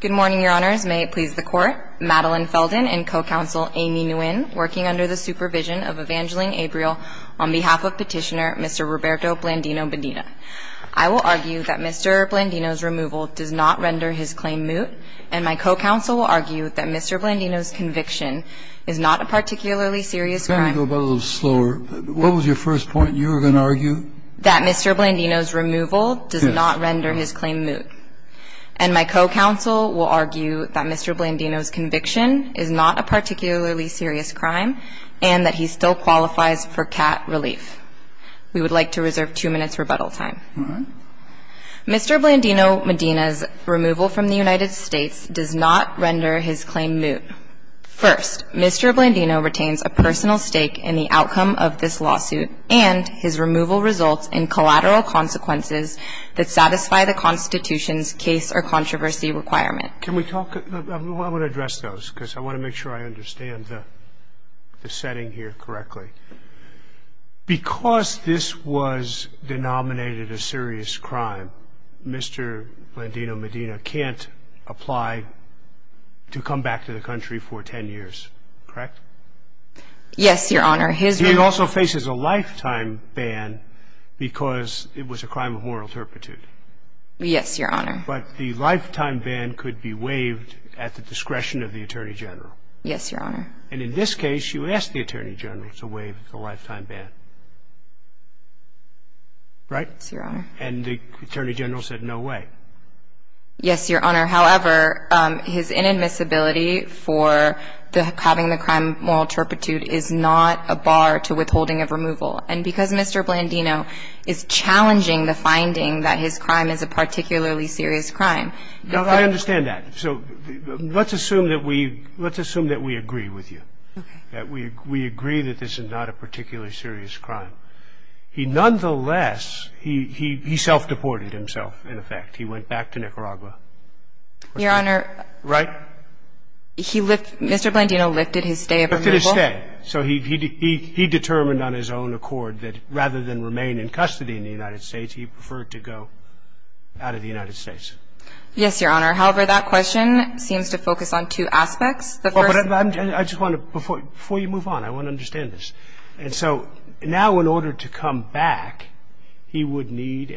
Good morning, Your Honors. May it please the Court. Madeleine Felden and co-counsel Amy Nguyen, working under the supervision of Evangeline Abreel, on behalf of petitioner Mr. Roberto Blandino-Medina. I will argue that Mr. Blandino's removal does not render his claim moot, and my co-counsel will argue that Mr. Blandino's conviction is not a particularly serious crime. Can we go a little bit slower? What was your first point? You were going to argue? That Mr. Blandino's removal does not render his claim moot. And my co-counsel will argue that Mr. Blandino's conviction is not a particularly serious crime and that he still qualifies for CAT relief. We would like to reserve two minutes' rebuttal time. All right. Mr. Blandino-Medina's removal from the United States does not render his claim moot. First, Mr. Blandino retains a personal stake in the outcome of this lawsuit and his removal results in collateral consequences that satisfy the Constitution's case or controversy requirement. Can we talk? I want to address those because I want to make sure I understand the setting here correctly. Because this was denominated a serious crime, Mr. Blandino-Medina can't apply to come back to the country for 10 years, correct? Yes, Your Honor. He also faces a lifetime ban because it was a crime of moral turpitude. Yes, Your Honor. But the lifetime ban could be waived at the discretion of the Attorney General. Yes, Your Honor. And in this case, you asked the Attorney General to waive the lifetime ban, right? Yes, Your Honor. And the Attorney General said no way. Yes, Your Honor. However, his inadmissibility for having the crime of moral turpitude is not a bar to withholding of removal. And because Mr. Blandino is challenging the finding that his crime is a particularly serious crime. I understand that. So let's assume that we agree with you. Okay. That we agree that this is not a particularly serious crime. Nonetheless, he self-deported himself, in effect. He went back to Nicaragua. Your Honor. Right? Mr. Blandino lifted his stay of removal. Lifted his stay. So he determined on his own accord that rather than remain in custody in the United States, he preferred to go out of the United States. Yes, Your Honor. However, that question seems to focus on two aspects. I just want to, before you move on, I want to understand this. And so now in order to come back, he would need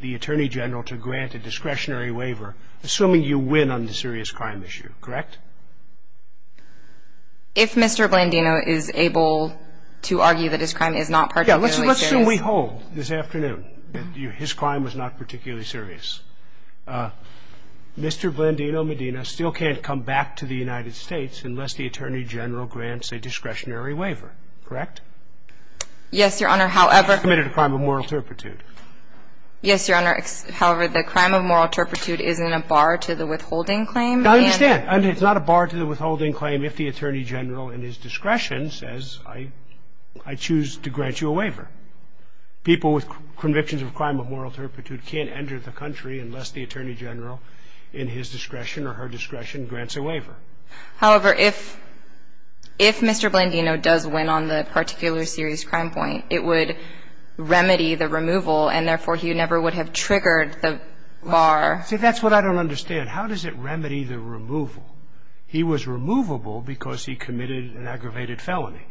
the Attorney General to grant a discretionary waiver, assuming you win on the serious crime issue, correct? If Mr. Blandino is able to argue that his crime is not particularly serious. Yes. Let's assume we hold this afternoon that his crime was not particularly serious. Mr. Blandino Medina still can't come back to the United States unless the Attorney General grants a discretionary waiver. Correct? Yes, Your Honor. However. He's committed a crime of moral turpitude. Yes, Your Honor. However, the crime of moral turpitude is in a bar to the withholding claim. I understand. And it's not a bar to the withholding claim if the Attorney General in his discretion says, I choose to grant you a waiver. People with convictions of crime of moral turpitude can't enter the country unless the Attorney General in his discretion or her discretion grants a waiver. However, if Mr. Blandino does win on the particularly serious crime point, it would remedy the removal and, therefore, he never would have triggered the bar. See, that's what I don't understand. How does it remedy the removal? He was removable because he committed an aggravated felony.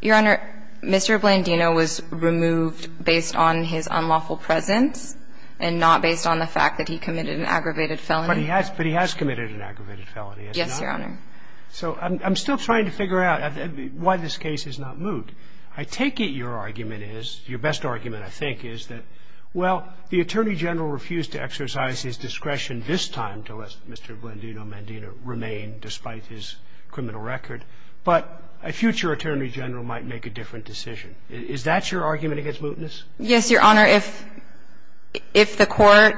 Your Honor, Mr. Blandino was removed based on his unlawful presence and not based on the fact that he committed an aggravated felony. But he has committed an aggravated felony, has he not? Yes, Your Honor. So I'm still trying to figure out why this case is not moved. I take it your argument is, your best argument, I think, is that, well, the Attorney General refused to exercise his discretion this time to let Mr. Blandino Medina remain despite his criminal record. But a future Attorney General might make a different decision. Is that your argument against mootness? Yes, Your Honor. If the Court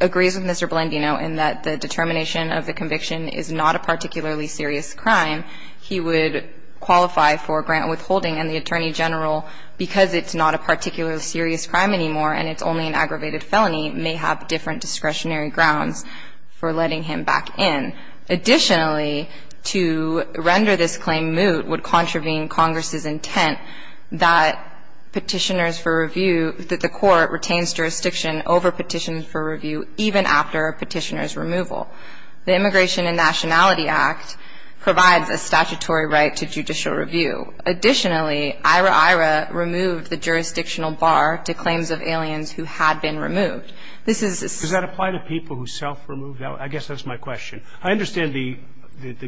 agrees with Mr. Blandino in that the determination of the conviction is not a particularly serious crime, he would qualify for grant withholding, and the Attorney General, because it's not a particularly serious crime anymore and it's only an aggravated felony, may have different discretionary grounds for letting him back in. Additionally, to render this claim moot would contravene Congress's intent that Petitioners for Review, that the Court retains jurisdiction over Petitioners for Review even after Petitioner's removal. The Immigration and Nationality Act provides a statutory right to judicial review. Additionally, IHRA IHRA removed the jurisdictional bar to claims of aliens who had been removed. This is a separate case. Does that apply to people who self-removed aliens? I guess that's my question. I understand the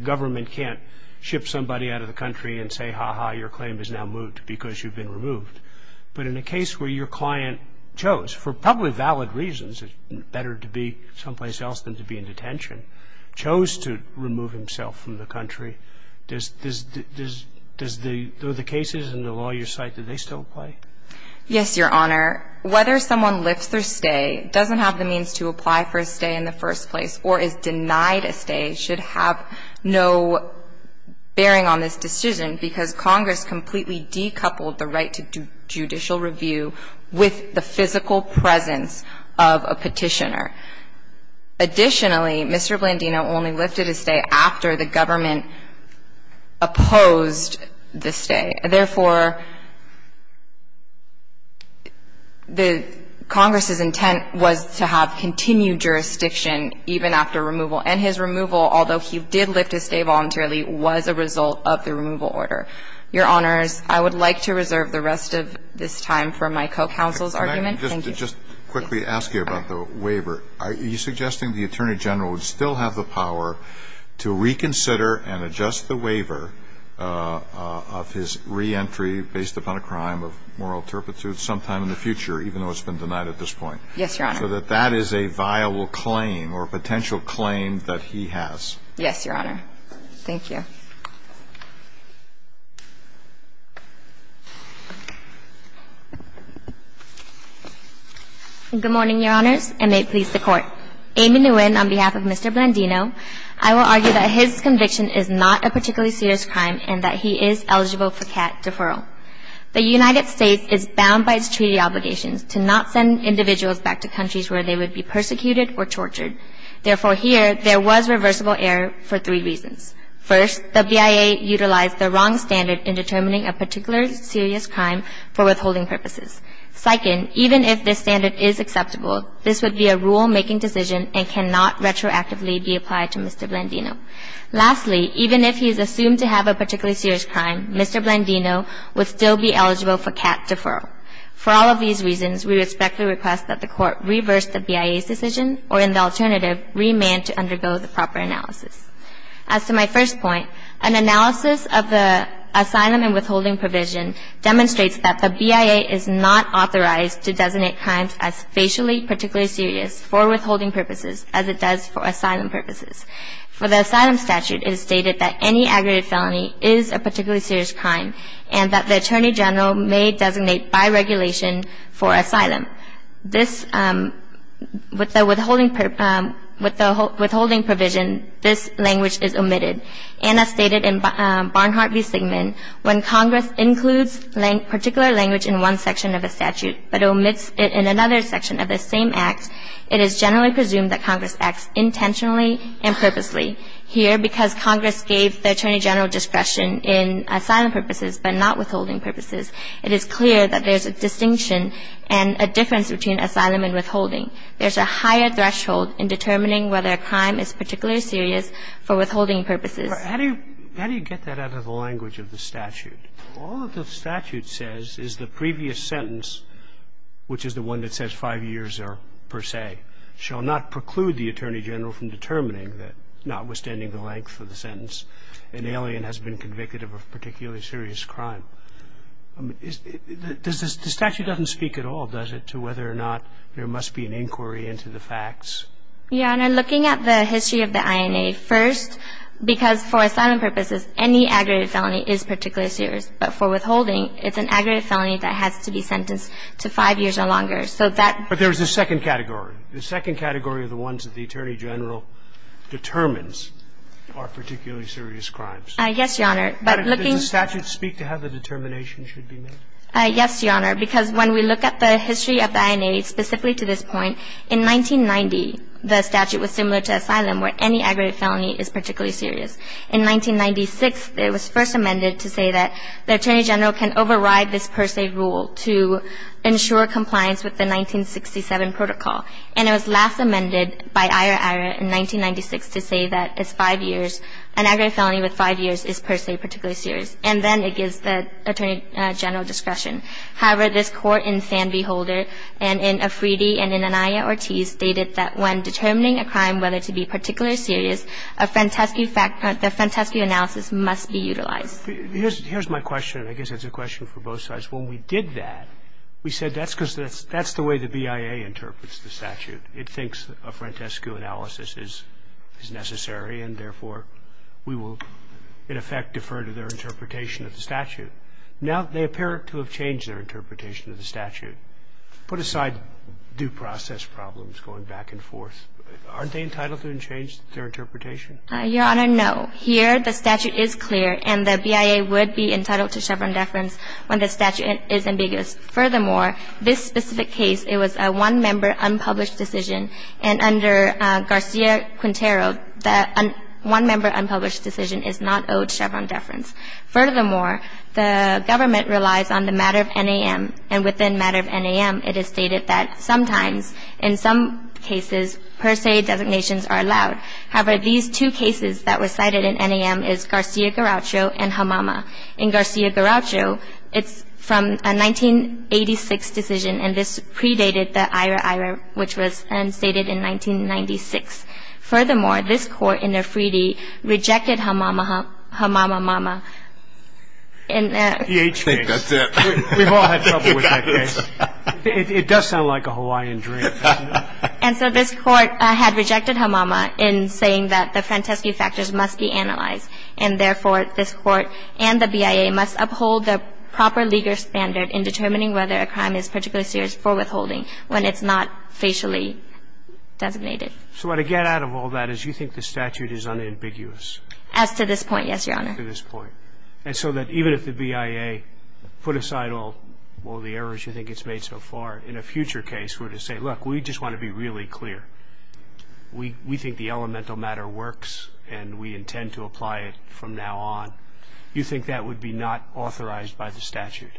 government can't ship somebody out of the country and say, ha-ha, your claim is now moot because you've been removed. But in a case where your client chose, for probably valid reasons, it's better to be someplace else than to be in detention, chose to remove himself from the country, does the cases in the lawyer's site, do they still apply? Yes, Your Honor. Whether someone lifts their stay doesn't have the means to apply for a stay in the first place or is denied a stay should have no bearing on this decision because Congress completely decoupled the right to judicial review with the physical presence of a Petitioner. Additionally, Mr. Blandino only lifted his stay after the government opposed the stay. Therefore, the Congress's intent was to have continued jurisdiction even after removal, and his removal, although he did lift his stay voluntarily, was a result of the removal order. Your Honors, I would like to reserve the rest of this time for my co-counsel's argument. Thank you. Can I just quickly ask you about the waiver? Are you suggesting the Attorney General would still have the power to reconsider and adjust the waiver of his reentry based upon a crime of moral turpitude sometime in the future, even though it's been denied at this point? Yes, Your Honor. So that that is a viable claim or potential claim that he has. Yes, Your Honor. Thank you. Good morning, Your Honors, and may it please the Court. Amy Nguyen, on behalf of Mr. Blandino, I will argue that his conviction is not a particularly serious crime and that he is eligible for cat deferral. The United States is bound by its treaty obligations to not send individuals back to countries where they would be persecuted or tortured. Therefore, here, there was reversible error for three reasons. First, the BIA utilized the wrong standard in determining a particular serious crime for withholding purposes. Second, even if this standard is acceptable, this would be a rule-making decision and cannot retroactively be applied to Mr. Blandino. Lastly, even if he is assumed to have a particularly serious crime, Mr. Blandino would still be eligible for cat deferral. For all of these reasons, we respectfully request that the Court reverse the BIA's decision or, in the alternative, remand to undergo the proper analysis. As to my first point, an analysis of the asylum and withholding provision demonstrates that the BIA is not authorized to designate crimes as facially particularly serious for withholding purposes as it does for asylum purposes. For the asylum statute, it is stated that any aggravated felony is a particularly serious crime and that the Attorney General may designate by regulation for asylum. This, with the withholding provision, this language is omitted. And as stated in Barnhart v. Sigman, when Congress includes particular language in one section of a statute but omits it in another section of the same act, it is generally presumed that Congress acts intentionally and purposely. Here, because Congress gave the Attorney General discretion in asylum purposes but not withholding purposes, it is clear that there's a distinction and a difference between asylum and withholding. There's a higher threshold in determining whether a crime is particularly serious for withholding purposes. How do you get that out of the language of the statute? All the statute says is the previous sentence, which is the one that says five years or per se, shall not preclude the Attorney General from determining that, notwithstanding the length of the sentence, an alien has been convicted of a particularly serious crime. The statute doesn't speak at all, does it, to whether or not there must be an inquiry into the facts? Your Honor, looking at the history of the INA, first, because for asylum purposes any aggravated felony is particularly serious. But for withholding, it's an aggravated felony that has to be sentenced to five years or longer. So that ---- But there's a second category. The second category are the ones that the Attorney General determines are particularly serious crimes. Yes, Your Honor. But looking ---- But does the statute speak to how the determination should be made? Yes, Your Honor, because when we look at the history of the INA, specifically to this point, in 1990, the statute was similar to asylum where any aggravated felony is particularly serious. In 1996, it was first amended to say that the Attorney General can override this per se rule to ensure compliance with the 1967 protocol. And it was last amended by Ira-Ira in 1996 to say that it's five years. An aggravated felony with five years is per se particularly serious. And then it gives the Attorney General discretion. However, this Court in Fan Beholder and in Afridi and in Anaya Ortiz stated that when determining a crime whether to be particularly serious, a frantescu fact ---- a frantescu analysis must be utilized. Here's my question. I guess it's a question for both sides. When we did that, we said that's because that's the way the BIA interprets the statute. It thinks a frantescu analysis is necessary and, therefore, we will, in effect, defer to their interpretation of the statute. Now they appear to have changed their interpretation of the statute. Put aside due process problems going back and forth, aren't they entitled to change their interpretation? Your Honor, no. Here the statute is clear and the BIA would be entitled to Chevron deference when the statute is ambiguous. Furthermore, this specific case, it was a one-member unpublished decision. And under Garcia-Quintero, the one-member unpublished decision is not owed Chevron deference. Furthermore, the government relies on the matter of NAM, and within matter of NAM, it is stated that sometimes, in some cases, per se designations are allowed. However, these two cases that were cited in NAM is Garcia-Garaucho and Hamama. In Garcia-Garaucho, it's from a 1986 decision, and this predated the Ira-Ira, which was then stated in 1996. Furthermore, this Court in Efreeti rejected Hamama, Hamama, Mama. And that's it. I think that's it. We've all had trouble with that case. It does sound like a Hawaiian dream. And so this Court had rejected Hamama in saying that the Franteschi factors must be analyzed, and therefore, this Court and the BIA must uphold the proper legal standard in determining whether a crime is particularly serious for withholding when it's not facially designated. So what I get out of all that is you think the statute is unambiguous. As to this point, yes, Your Honor. As to this point. And so that even if the BIA put aside all the errors you think it's made so far, in a future case, we're going to say, look, we just want to be really clear. We think the elemental matter works, and we intend to apply it from now on. You think that would be not authorized by the statute?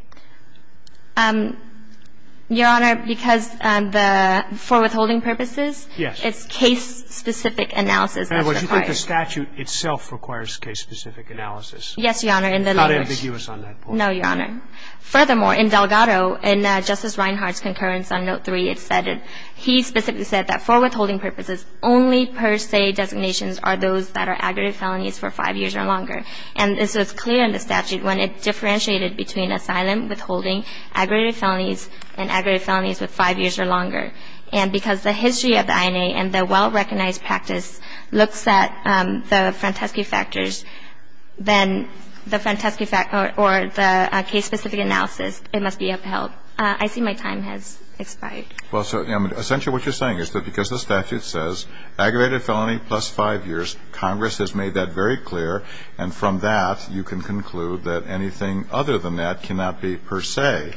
Your Honor, because the for withholding purposes, it's case-specific analysis that's required. And would you think the statute itself requires case-specific analysis? Yes, Your Honor. It's not ambiguous on that point. No, Your Honor. Furthermore, in Delgado, in Justice Reinhart's concurrence on Note 3, it said that he specifically said that for withholding purposes, only per se designations are those that are aggregate felonies for five years or longer. And so it's clear in the statute when it differentiated between asylum withholding, aggregate felonies, and aggregate felonies with five years or longer. And because the history of the INA and the well-recognized practice looks at the Franteschi factors, then the Franteschi fact or the case-specific analysis, it must be upheld. I see my time has expired. Well, so essentially what you're saying is that because the statute says aggregate felony plus five years, Congress has made that very clear, and from that you can conclude that anything other than that cannot be per se.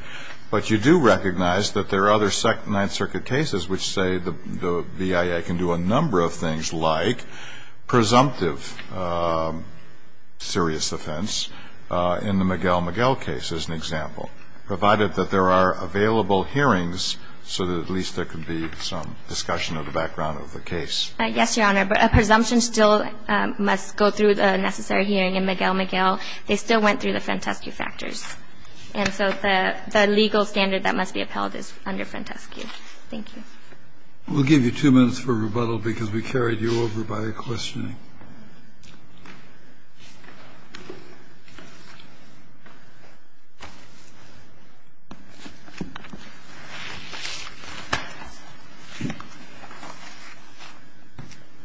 But you do recognize that there are other Ninth Circuit cases which say the BIA can do a number of things, like presumptive serious offense in the Miguel-Miguel case, as an example, provided that there are available hearings so that at least there could be some discussion of the background of the case. Yes, Your Honor. But a presumption still must go through the necessary hearing in Miguel-Miguel. They still went through the Franteschi factors. And so the legal standard that must be upheld is under Franteschi. Thank you. We'll give you two minutes for rebuttal, because we carried you over by questioning.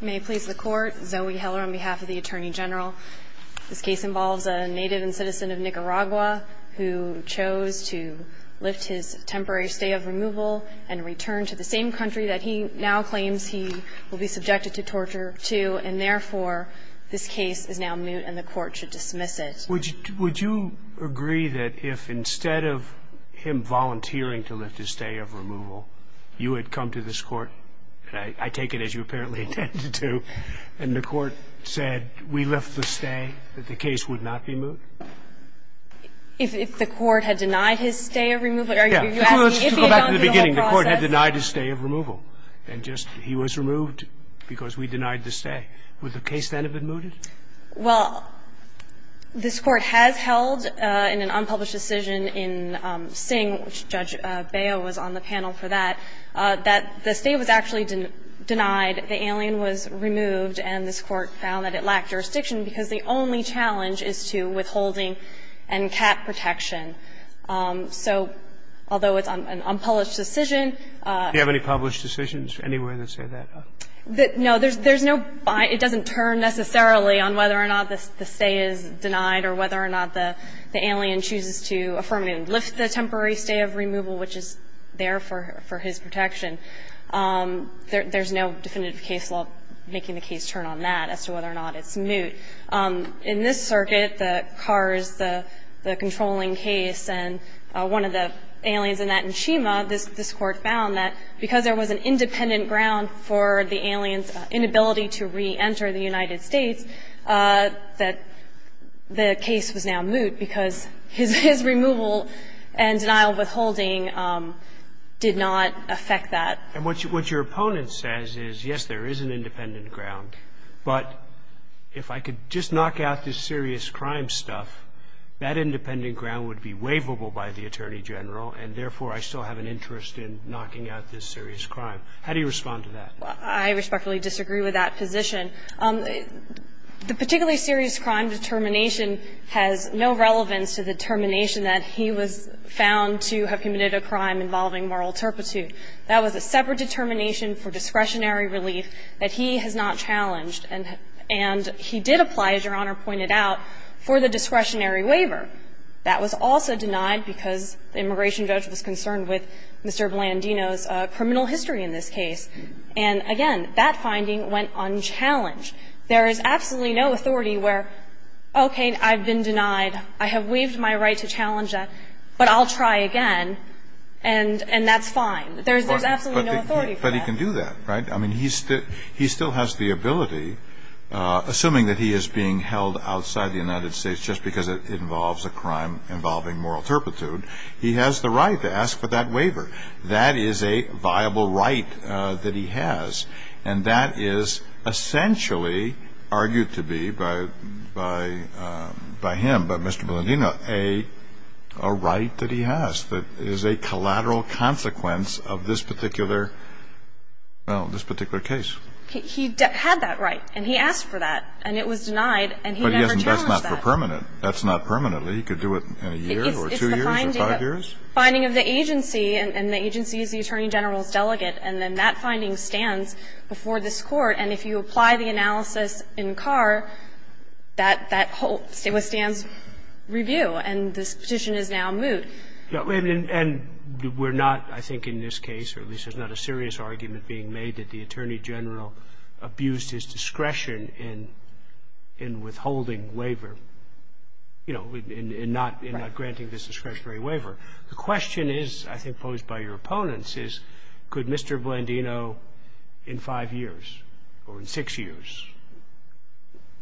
May it please the Court. Zoe Heller on behalf of the Attorney General. This case involves a native and citizen of Nicaragua who chose to lift his temporary stay of removal and return to the same country that he now claims he will be subjected to torture to, and therefore, this case is now moot and the Court should dismiss it. Would you agree that if instead of him volunteering to lift his stay of removal, you had come to this Court, and I take it as you apparently intended to, and the Court said we lift the stay, that the case would not be moot? If the Court had denied his stay of removal? Are you asking if he had gone through the whole process? Let's go back to the beginning. The Court had denied his stay of removal, and just he was removed because we denied the stay. Would the case then have been mooted? Well, this Court has held in an unpublished decision in Singh, which Judge Baio was on the panel for that, that the stay was actually denied, the alien was removed, and this Court found that it lacked jurisdiction because the only challenge is to withholding and cap protection. So although it's an unpublished decision. Do you have any published decisions anywhere that say that? No. There's no buy. It doesn't turn necessarily on whether or not the stay is denied or whether or not the alien chooses to affirmly lift the temporary stay of removal, which is there for his protection. There's no definitive case law making the case turn on that as to whether or not it's moot. In this circuit, the Kars, the controlling case, and one of the aliens in that in Shima, this Court found that because there was an independent ground for the alien's inability to reenter the United States, that the case was now moot because his removal and denial of withholding did not affect that. And what your opponent says is, yes, there is an independent ground, but if I could just knock out this serious crime stuff, that independent ground would be waivable by the Attorney General, and therefore, I still have an interest in knocking out this serious crime. How do you respond to that? I respectfully disagree with that position. The particularly serious crime determination has no relevance to the determination that he was found to have committed a crime involving moral turpitude. That was a separate determination for discretionary relief that he has not challenged. And he did apply, as Your Honor pointed out, for the discretionary waiver. That was also denied because the immigration judge was concerned with Mr. Blandino's criminal history in this case. And again, that finding went unchallenged. There is absolutely no authority where, okay, I've been denied. I have waived my right to challenge that, but I'll try again, and that's fine. There's absolutely no authority for that. But he can do that, right? I mean, he still has the ability, assuming that he is being held outside the United States just because it involves a crime involving moral turpitude, he has the right to ask for that waiver. That is a viable right that he has. And that is essentially argued to be by him, by Mr. Blandino, a right that he has that is a collateral consequence of this particular, well, this particular case. He had that right, and he asked for that, and it was denied, and he never challenged that. But that's not permanent. That's not permanently. He could do it in a year or two years or five years. It's the finding of the agency, and the agency is the Attorney General's delegate, and then that finding stands before this Court. And if you apply the analysis in Carr, that holds, it withstands review, and this petition is now moot. And we're not, I think in this case, or at least there's not a serious argument being made that the Attorney General abused his discretion in withholding waiver, you know, in not granting this discretionary waiver. The question is, I think posed by your opponents, is could Mr. Blandino in five years or in six years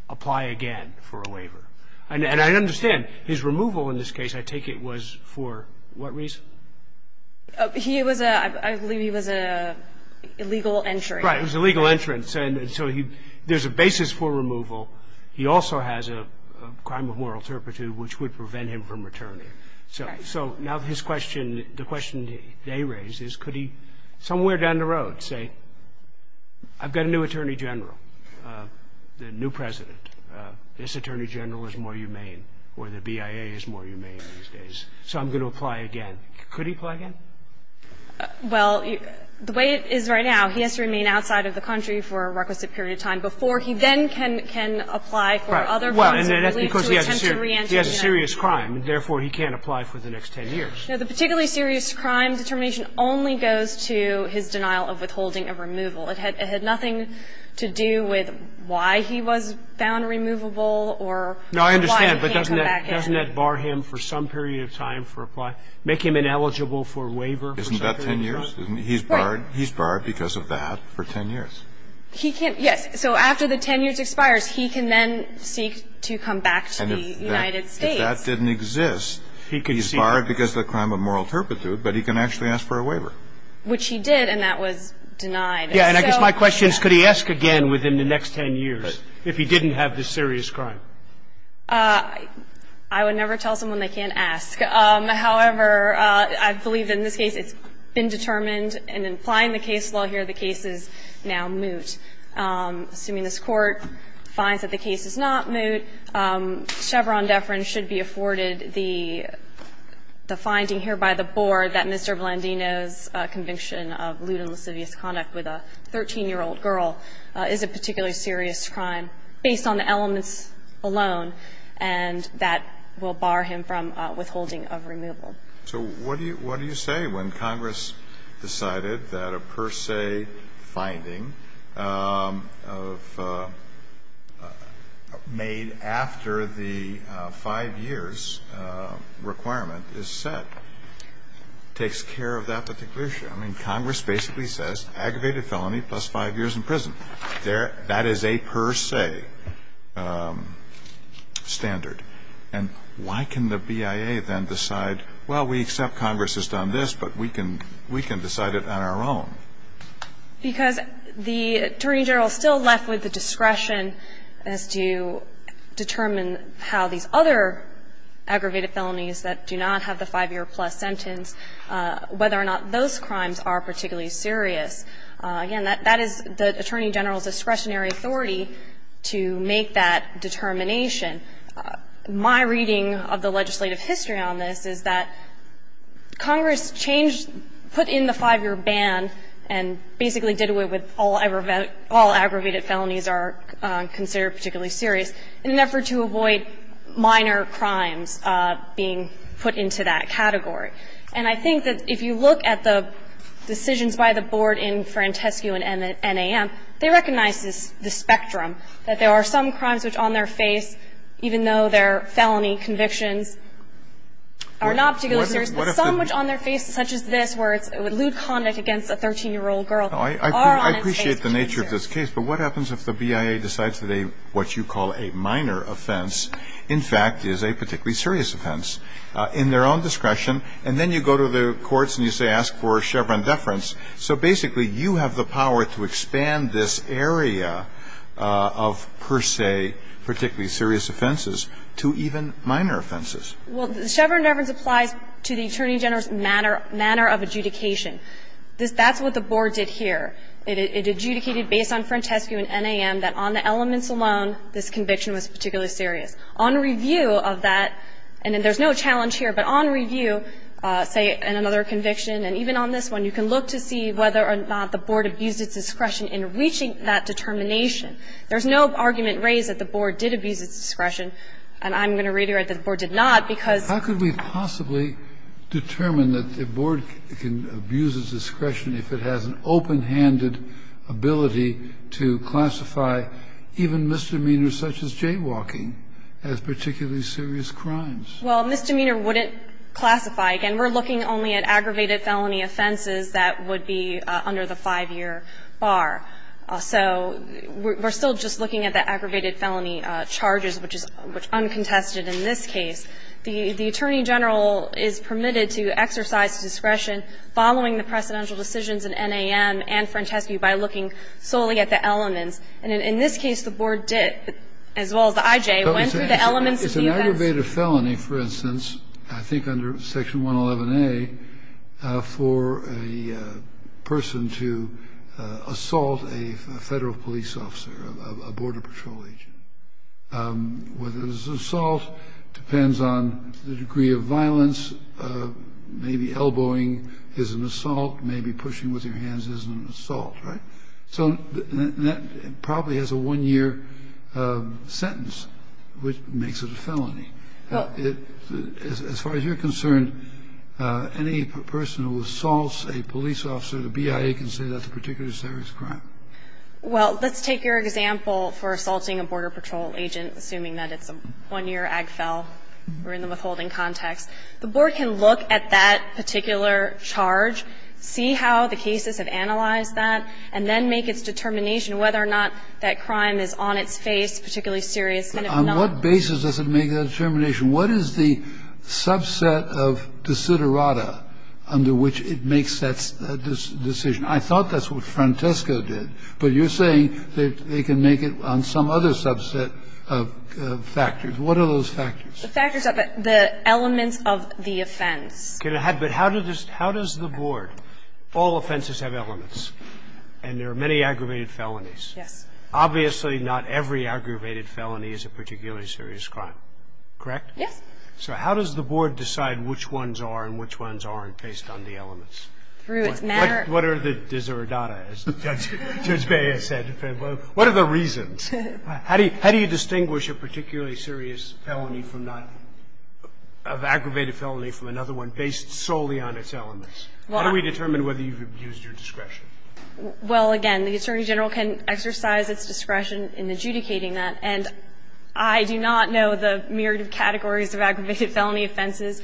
apply again for a waiver? And I understand his removal in this case, I take it, was for what reason? He was a, I believe he was a illegal entry. Right. He was a legal entrance. And so he, there's a basis for removal. He also has a crime of moral turpitude, which would prevent him from returning. Right. So now his question, the question they raise is could he somewhere down the road say, I've got a new Attorney General, the new President, this Attorney General is more humane, or the BIA is more humane these days, so I'm going to apply again. Could he apply again? Well, the way it is right now, he has to remain outside of the country for a requisite period of time before he then can apply for other forms of relief to attempt to reenter the United States. States. But he's a serious crime, therefore he can't apply for the next 10 years. No, the particularly serious crime determination only goes to his denial of withholding a removal. It had nothing to do with why he was found removable or why he can't come back in. No, I understand. But doesn't that bar him for some period of time for apply? Make him ineligible for waiver for some period of time? Isn't that 10 years? Right. He's barred because of that for 10 years. He can't, yes. So after the 10 years expires, he can then seek to come back to the United States. And if that didn't exist, he's barred because of the crime of moral turpitude, but he can actually ask for a waiver. Which he did, and that was denied. Yeah, and I guess my question is could he ask again within the next 10 years if he didn't have this serious crime? I would never tell someone they can't ask. However, I believe in this case it's been determined and in applying the case law here, the case is now moot. Assuming this Court finds that the case is not moot, Chevron deference should be afforded the finding here by the Board that Mr. Blandino's conviction of lewd and lascivious conduct with a 13-year-old girl is a particularly serious crime based on the elements alone, and that will bar him from withholding of removal. So what do you say when Congress decided that a per se finding made after the five years requirement is set takes care of that particular issue? I mean, Congress basically says aggravated felony plus five years in prison. That is a per se standard. And why can the BIA then decide, well, we accept Congress has done this, but we can decide it on our own? Because the Attorney General is still left with the discretion as to determine how these other aggravated felonies that do not have the five-year-plus sentence, whether or not those crimes are particularly serious. Again, that is the Attorney General's discretionary authority to make that determination. My reading of the legislative history on this is that Congress changed, put in the five-year ban and basically did away with all aggravated felonies are considered particularly serious in an effort to avoid minor crimes being put into that category. And I think that if you look at the decisions by the board in Frantescu and NAM, they recognize the spectrum, that there are some crimes which on their face, even though they're felony convictions, are not particularly serious, but some which on their face such as this where it's lewd conduct against a 13-year-old girl are on their face. I appreciate the nature of this case, but what happens if the BIA decides that a, what you call a minor offense, in fact, is a particularly serious offense in their own discretion, and then you go to the courts and you say ask for Chevron deference. So basically, you have the power to expand this area of per se particularly serious offenses to even minor offenses. Well, Chevron deference applies to the Attorney General's manner of adjudication. That's what the board did here. It adjudicated, based on Frantescu and NAM, that on the elements alone, this conviction was particularly serious. On review of that, and there's no challenge here, but on review, say, in another conviction, and even on this one, you can look to see whether or not the board abused its discretion in reaching that determination. There's no argument raised that the board did abuse its discretion, and I'm going to reiterate that the board did not, because the board did not. have the expanded ability to classify even misdemeanors such as jaywalking as particularly serious crimes. Well, misdemeanor wouldn't classify. Again, we're looking only at aggravated felony offenses that would be under the 5-year bar. So we're still just looking at the aggravated felony charges, which is uncontested in this case. The attorney general is permitted to exercise discretion following the precedential decisions in NAM and Frantescu by looking solely at the elements. And in this case, the board did, as well as the IJ, went through the elements of the offense. It's an aggravated felony, for instance, I think under Section 111A, for a person to assault a Federal police officer, a Border Patrol agent. Whether it's an assault depends on the degree of violence. Maybe elbowing is an assault. Maybe pushing with your hands isn't an assault, right? So that probably has a 1-year sentence, which makes it a felony. As far as you're concerned, any person who assaults a police officer, the BIA can say that's a particularly serious crime. Well, let's take your example for assaulting a Border Patrol agent, assuming that it's a 1-year AGFEL. We're in the withholding context. The board can look at that particular charge, see how the cases have analyzed that, and then make its determination whether or not that crime is on its face, particularly serious. On what basis does it make that determination? What is the subset of desiderata under which it makes that decision? I thought that's what Frantesco did, but you're saying that they can make it on some other subset of factors. What are those factors? The factors of the elements of the offense. But how does the board, all offenses have elements, and there are many aggravated felonies. Yes. Obviously, not every aggravated felony is a particularly serious crime, correct? Yes. So how does the board decide which ones are and which ones aren't based on the elements? Through its manner. What are the desiderata, as Judge Bay has said? What are the reasons? How do you distinguish a particularly serious felony from not an aggravated felony from another one based solely on its elements? How do we determine whether you've abused your discretion? Well, again, the Attorney General can exercise its discretion in adjudicating that, and I do not know the myriad of categories of aggravated felony offenses.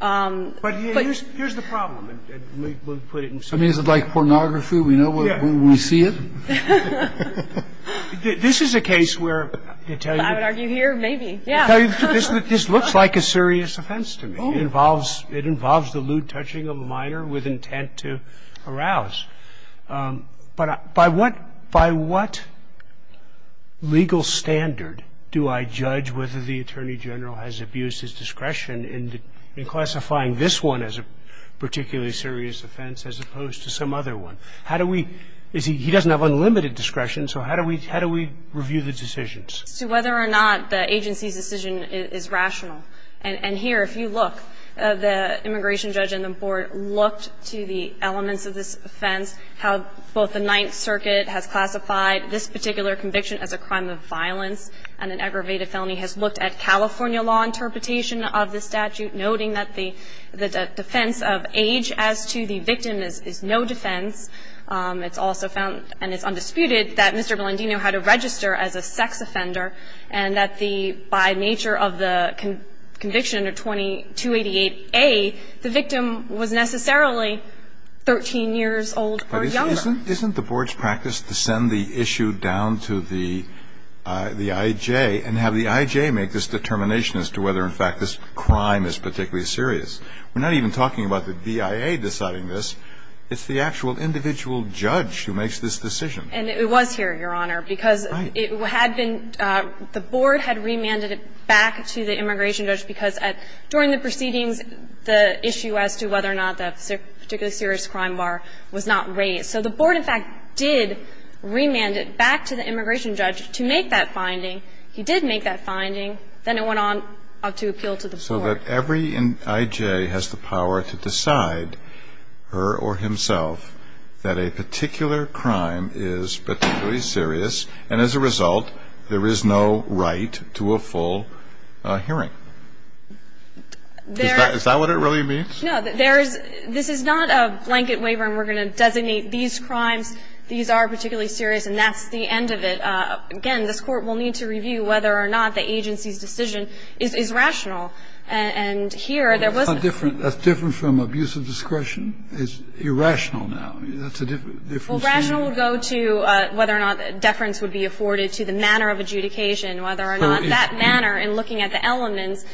But here's the problem, and we'll put it in sequence. I mean, is it like pornography? We know when we see it? This is a case where, to tell you the truth. I would argue here, maybe, yeah. To tell you the truth, this looks like a serious offense to me. It involves the lewd touching of a minor with intent to arouse. But by what legal standard do I judge whether the Attorney General has abused his discretion in classifying this one as a particularly serious offense as opposed to some other one? How do we – he doesn't have unlimited discretion, so how do we review the decisions? As to whether or not the agency's decision is rational. And here, if you look, the immigration judge and the board looked to the elements of this offense, how both the Ninth Circuit has classified this particular conviction as a crime of violence and an aggravated felony, has looked at California law interpretation of the statute, noting that the defense of age as to the victim is no defense. It's also found, and it's undisputed, that Mr. Blandino had to register as a sex offender and that the – by nature of the conviction under 2288A, the victim was necessarily 13 years old or younger. But isn't the board's practice to send the issue down to the I.J. and have the I.J. make this determination as to whether, in fact, this crime is particularly serious? We're not even talking about the BIA deciding this. It's the actual individual judge who makes this decision. And it was here, Your Honor, because it had been – the board had remanded it back to the immigration judge because at – during the proceedings, the issue as to whether or not the particularly serious crime bar was not raised. So the board, in fact, did remand it back to the immigration judge to make that finding. He did make that finding. Then it went on to appeal to the court. So that every I.J. has the power to decide, her or himself, that a particular crime is particularly serious, and as a result, there is no right to a full hearing. Is that what it really means? No. There is – this is not a blanket waiver and we're going to designate these crimes, these are particularly serious, and that's the end of it. Again, this Court will need to review whether or not the agency's decision is rational. And here, there was – That's not different. That's different from abuse of discretion. It's irrational now. That's a different thing. Well, rational would go to whether or not deference would be afforded to the manner of adjudication, whether or not that manner in looking at the elements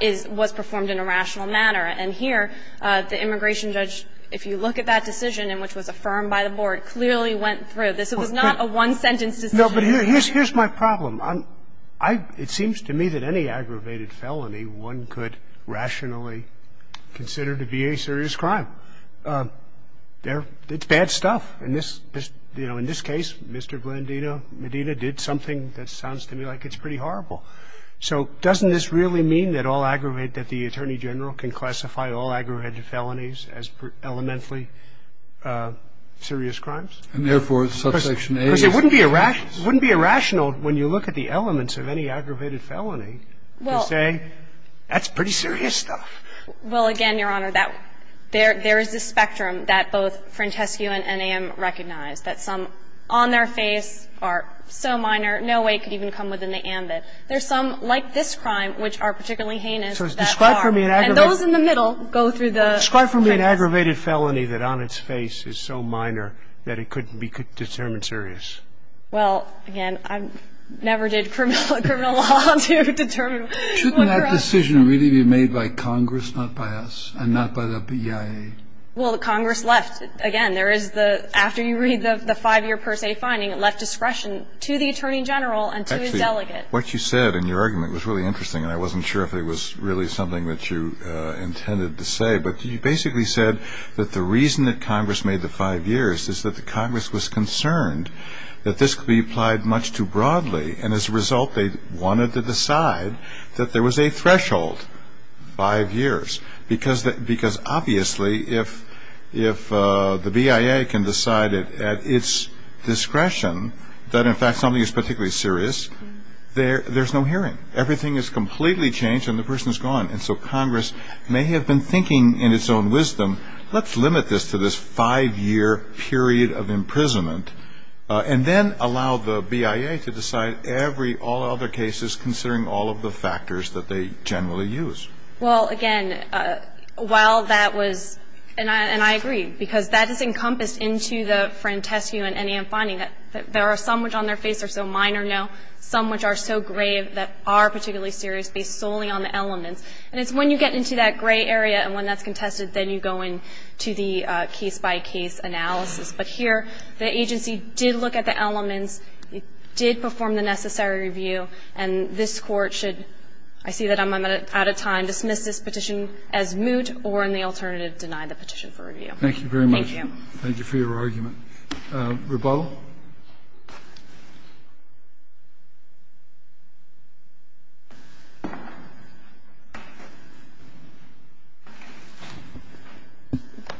is – was performed in a rational manner. And here, the immigration judge, if you look at that decision, which was affirmed by the board, clearly went through. This was not a one-sentence decision. No, but here's my problem. It seems to me that any aggravated felony, one could rationally consider to be a serious crime. It's bad stuff. In this case, Mr. Blandino Medina did something that sounds to me like it's pretty horrible. So doesn't this really mean that all aggravated – that the Attorney General can classify all aggravated felonies as elementally serious crimes? And therefore, subsection A is a serious crime. It wouldn't be irrational when you look at the elements of any aggravated felony to say, that's pretty serious stuff. Well, again, Your Honor, that – there is a spectrum that both Frantescu and NAM recognize, that some on their face are so minor, no way it could even come within the ambit. There's some, like this crime, which are particularly heinous, that are. So describe for me an aggravated felony that on its face is so minor that it could be determined serious. Well, again, I never did criminal law to determine. Shouldn't that decision really be made by Congress, not by us, and not by the BIA? Well, Congress left – again, there is the – after you read the five-year per se finding, it left discretion to the Attorney General and to his delegate. Actually, what you said in your argument was really interesting, and I wasn't sure if it was really something that you intended to say. But you basically said that the reason that Congress made the five years is that the Congress was concerned that this could be applied much too broadly, and as a result, they wanted to decide that there was a threshold, five years. Because obviously, if the BIA can decide at its discretion that, in fact, something is particularly serious, there's no hearing. Everything is completely changed, and the person is gone. And so Congress may have been thinking in its own wisdom, let's limit this to this five-year period of imprisonment, and then allow the BIA to decide every – all other cases considering all of the factors that they generally use. Well, again, while that was – and I agree, because that is encompassed into the Frantescu and Ennian finding that there are some which on their face are so minor now, some which are so grave that are particularly serious, based solely on the elements. And it's when you get into that gray area, and when that's contested, then you go into the case-by-case analysis. But here, the agency did look at the elements, did perform the necessary review, and this Court should – I see that I'm out of time – dismiss this petition as moot or, in the alternative, deny the petition for review. Thank you very much. Thank you. Thank you for your argument. Rebuttal.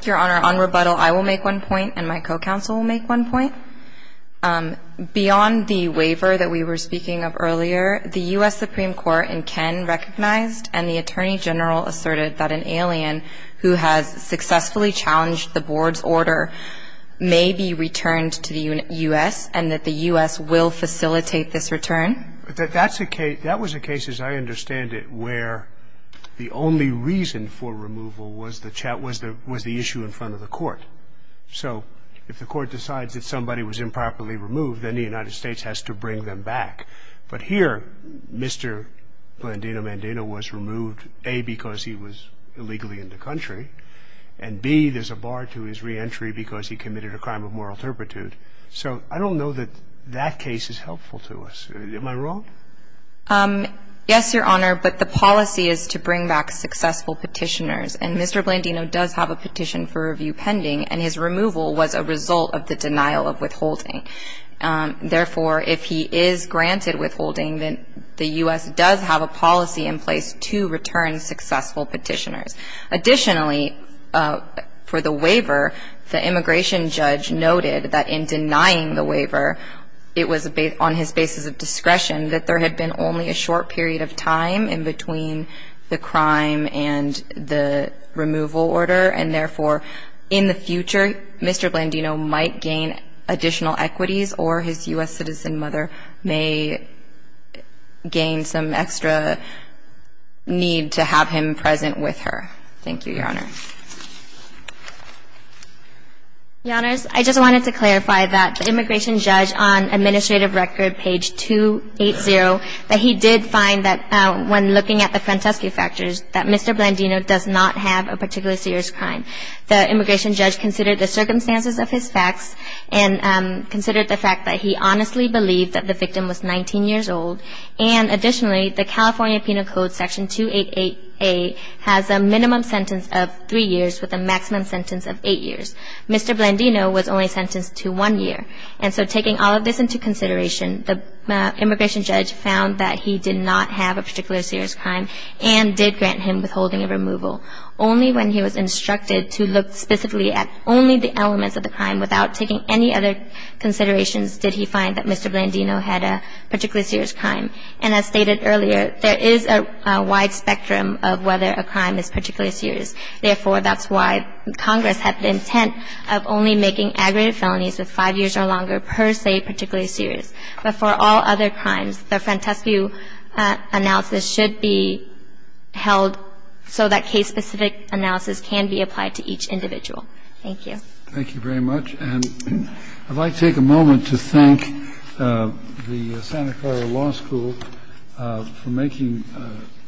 Your Honor, on rebuttal, I will make one point, and my co-counsel will make one point. Beyond the waiver that we were speaking of earlier, the U.S. Supreme Court in Ken recognized and the Attorney General asserted that an alien who has successfully challenged the Board's order may be returned to the U.S. and that the U.S. will facilitate this return. That's a case – that was a case, as I understand it, where the only reason for removal was the issue in front of the Court. So if the Court decides that somebody was improperly removed, then the United States has to bring them back. But here, Mr. Blandino-Mandino was removed, A, because he was illegally in the country, and B, there's a bar to his reentry because he committed a crime of moral turpitude. So I don't know that that case is helpful to us. Am I wrong? Yes, Your Honor, but the policy is to bring back successful petitioners, and Mr. Blandino does have a petition for review pending, and his removal was a result of the denial of withholding. Therefore, if he is granted withholding, then the U.S. does have a policy in place to return successful petitioners. Additionally, for the waiver, the immigration judge noted that in denying the waiver, it was on his basis of discretion that there had been only a short period of time in between the crime and the removal order. And therefore, in the future, Mr. Blandino might gain additional equities or his U.S. citizen mother may gain some extra need to have him present with her. Thank you, Your Honor. Your Honors, I just wanted to clarify that the immigration judge on Administrative Record, page 280, that he did find that when looking at the Francesca factors, that Mr. Blandino does not have a particularly serious crime. The immigration judge considered the circumstances of his facts and considered the fact that he honestly believed that the victim was 19 years old. And additionally, the California Penal Code, Section 288A, has a minimum sentence of three years with a maximum sentence of eight years. Mr. Blandino was only sentenced to one year. And so taking all of this into consideration, the immigration judge found that he did not have a particular serious crime and did grant him withholding of removal. Only when he was instructed to look specifically at only the elements of the crime without taking any other considerations, did he find that Mr. Blandino had a particularly serious crime. And as stated earlier, there is a wide spectrum of whether a crime is particularly serious. Therefore, that's why Congress had the intent of only making aggravated felonies with five years or longer per se particularly serious. But for all other crimes, the Francesca analysis should be held so that case-specific analysis can be applied to each individual. Thank you. Thank you very much. And I'd like to take a moment to thank the Santa Clara Law School for making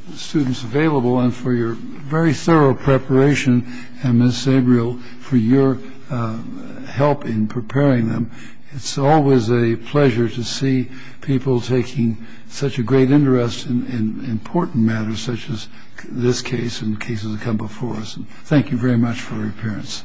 the students available and for your very thorough preparation, and Ms. Sabriel for your help in preparing them. It's always a pleasure to see people taking such a great interest in important matters such as this case and cases that come before us. Thank you very much for your appearance. Thank you. Bye-bye.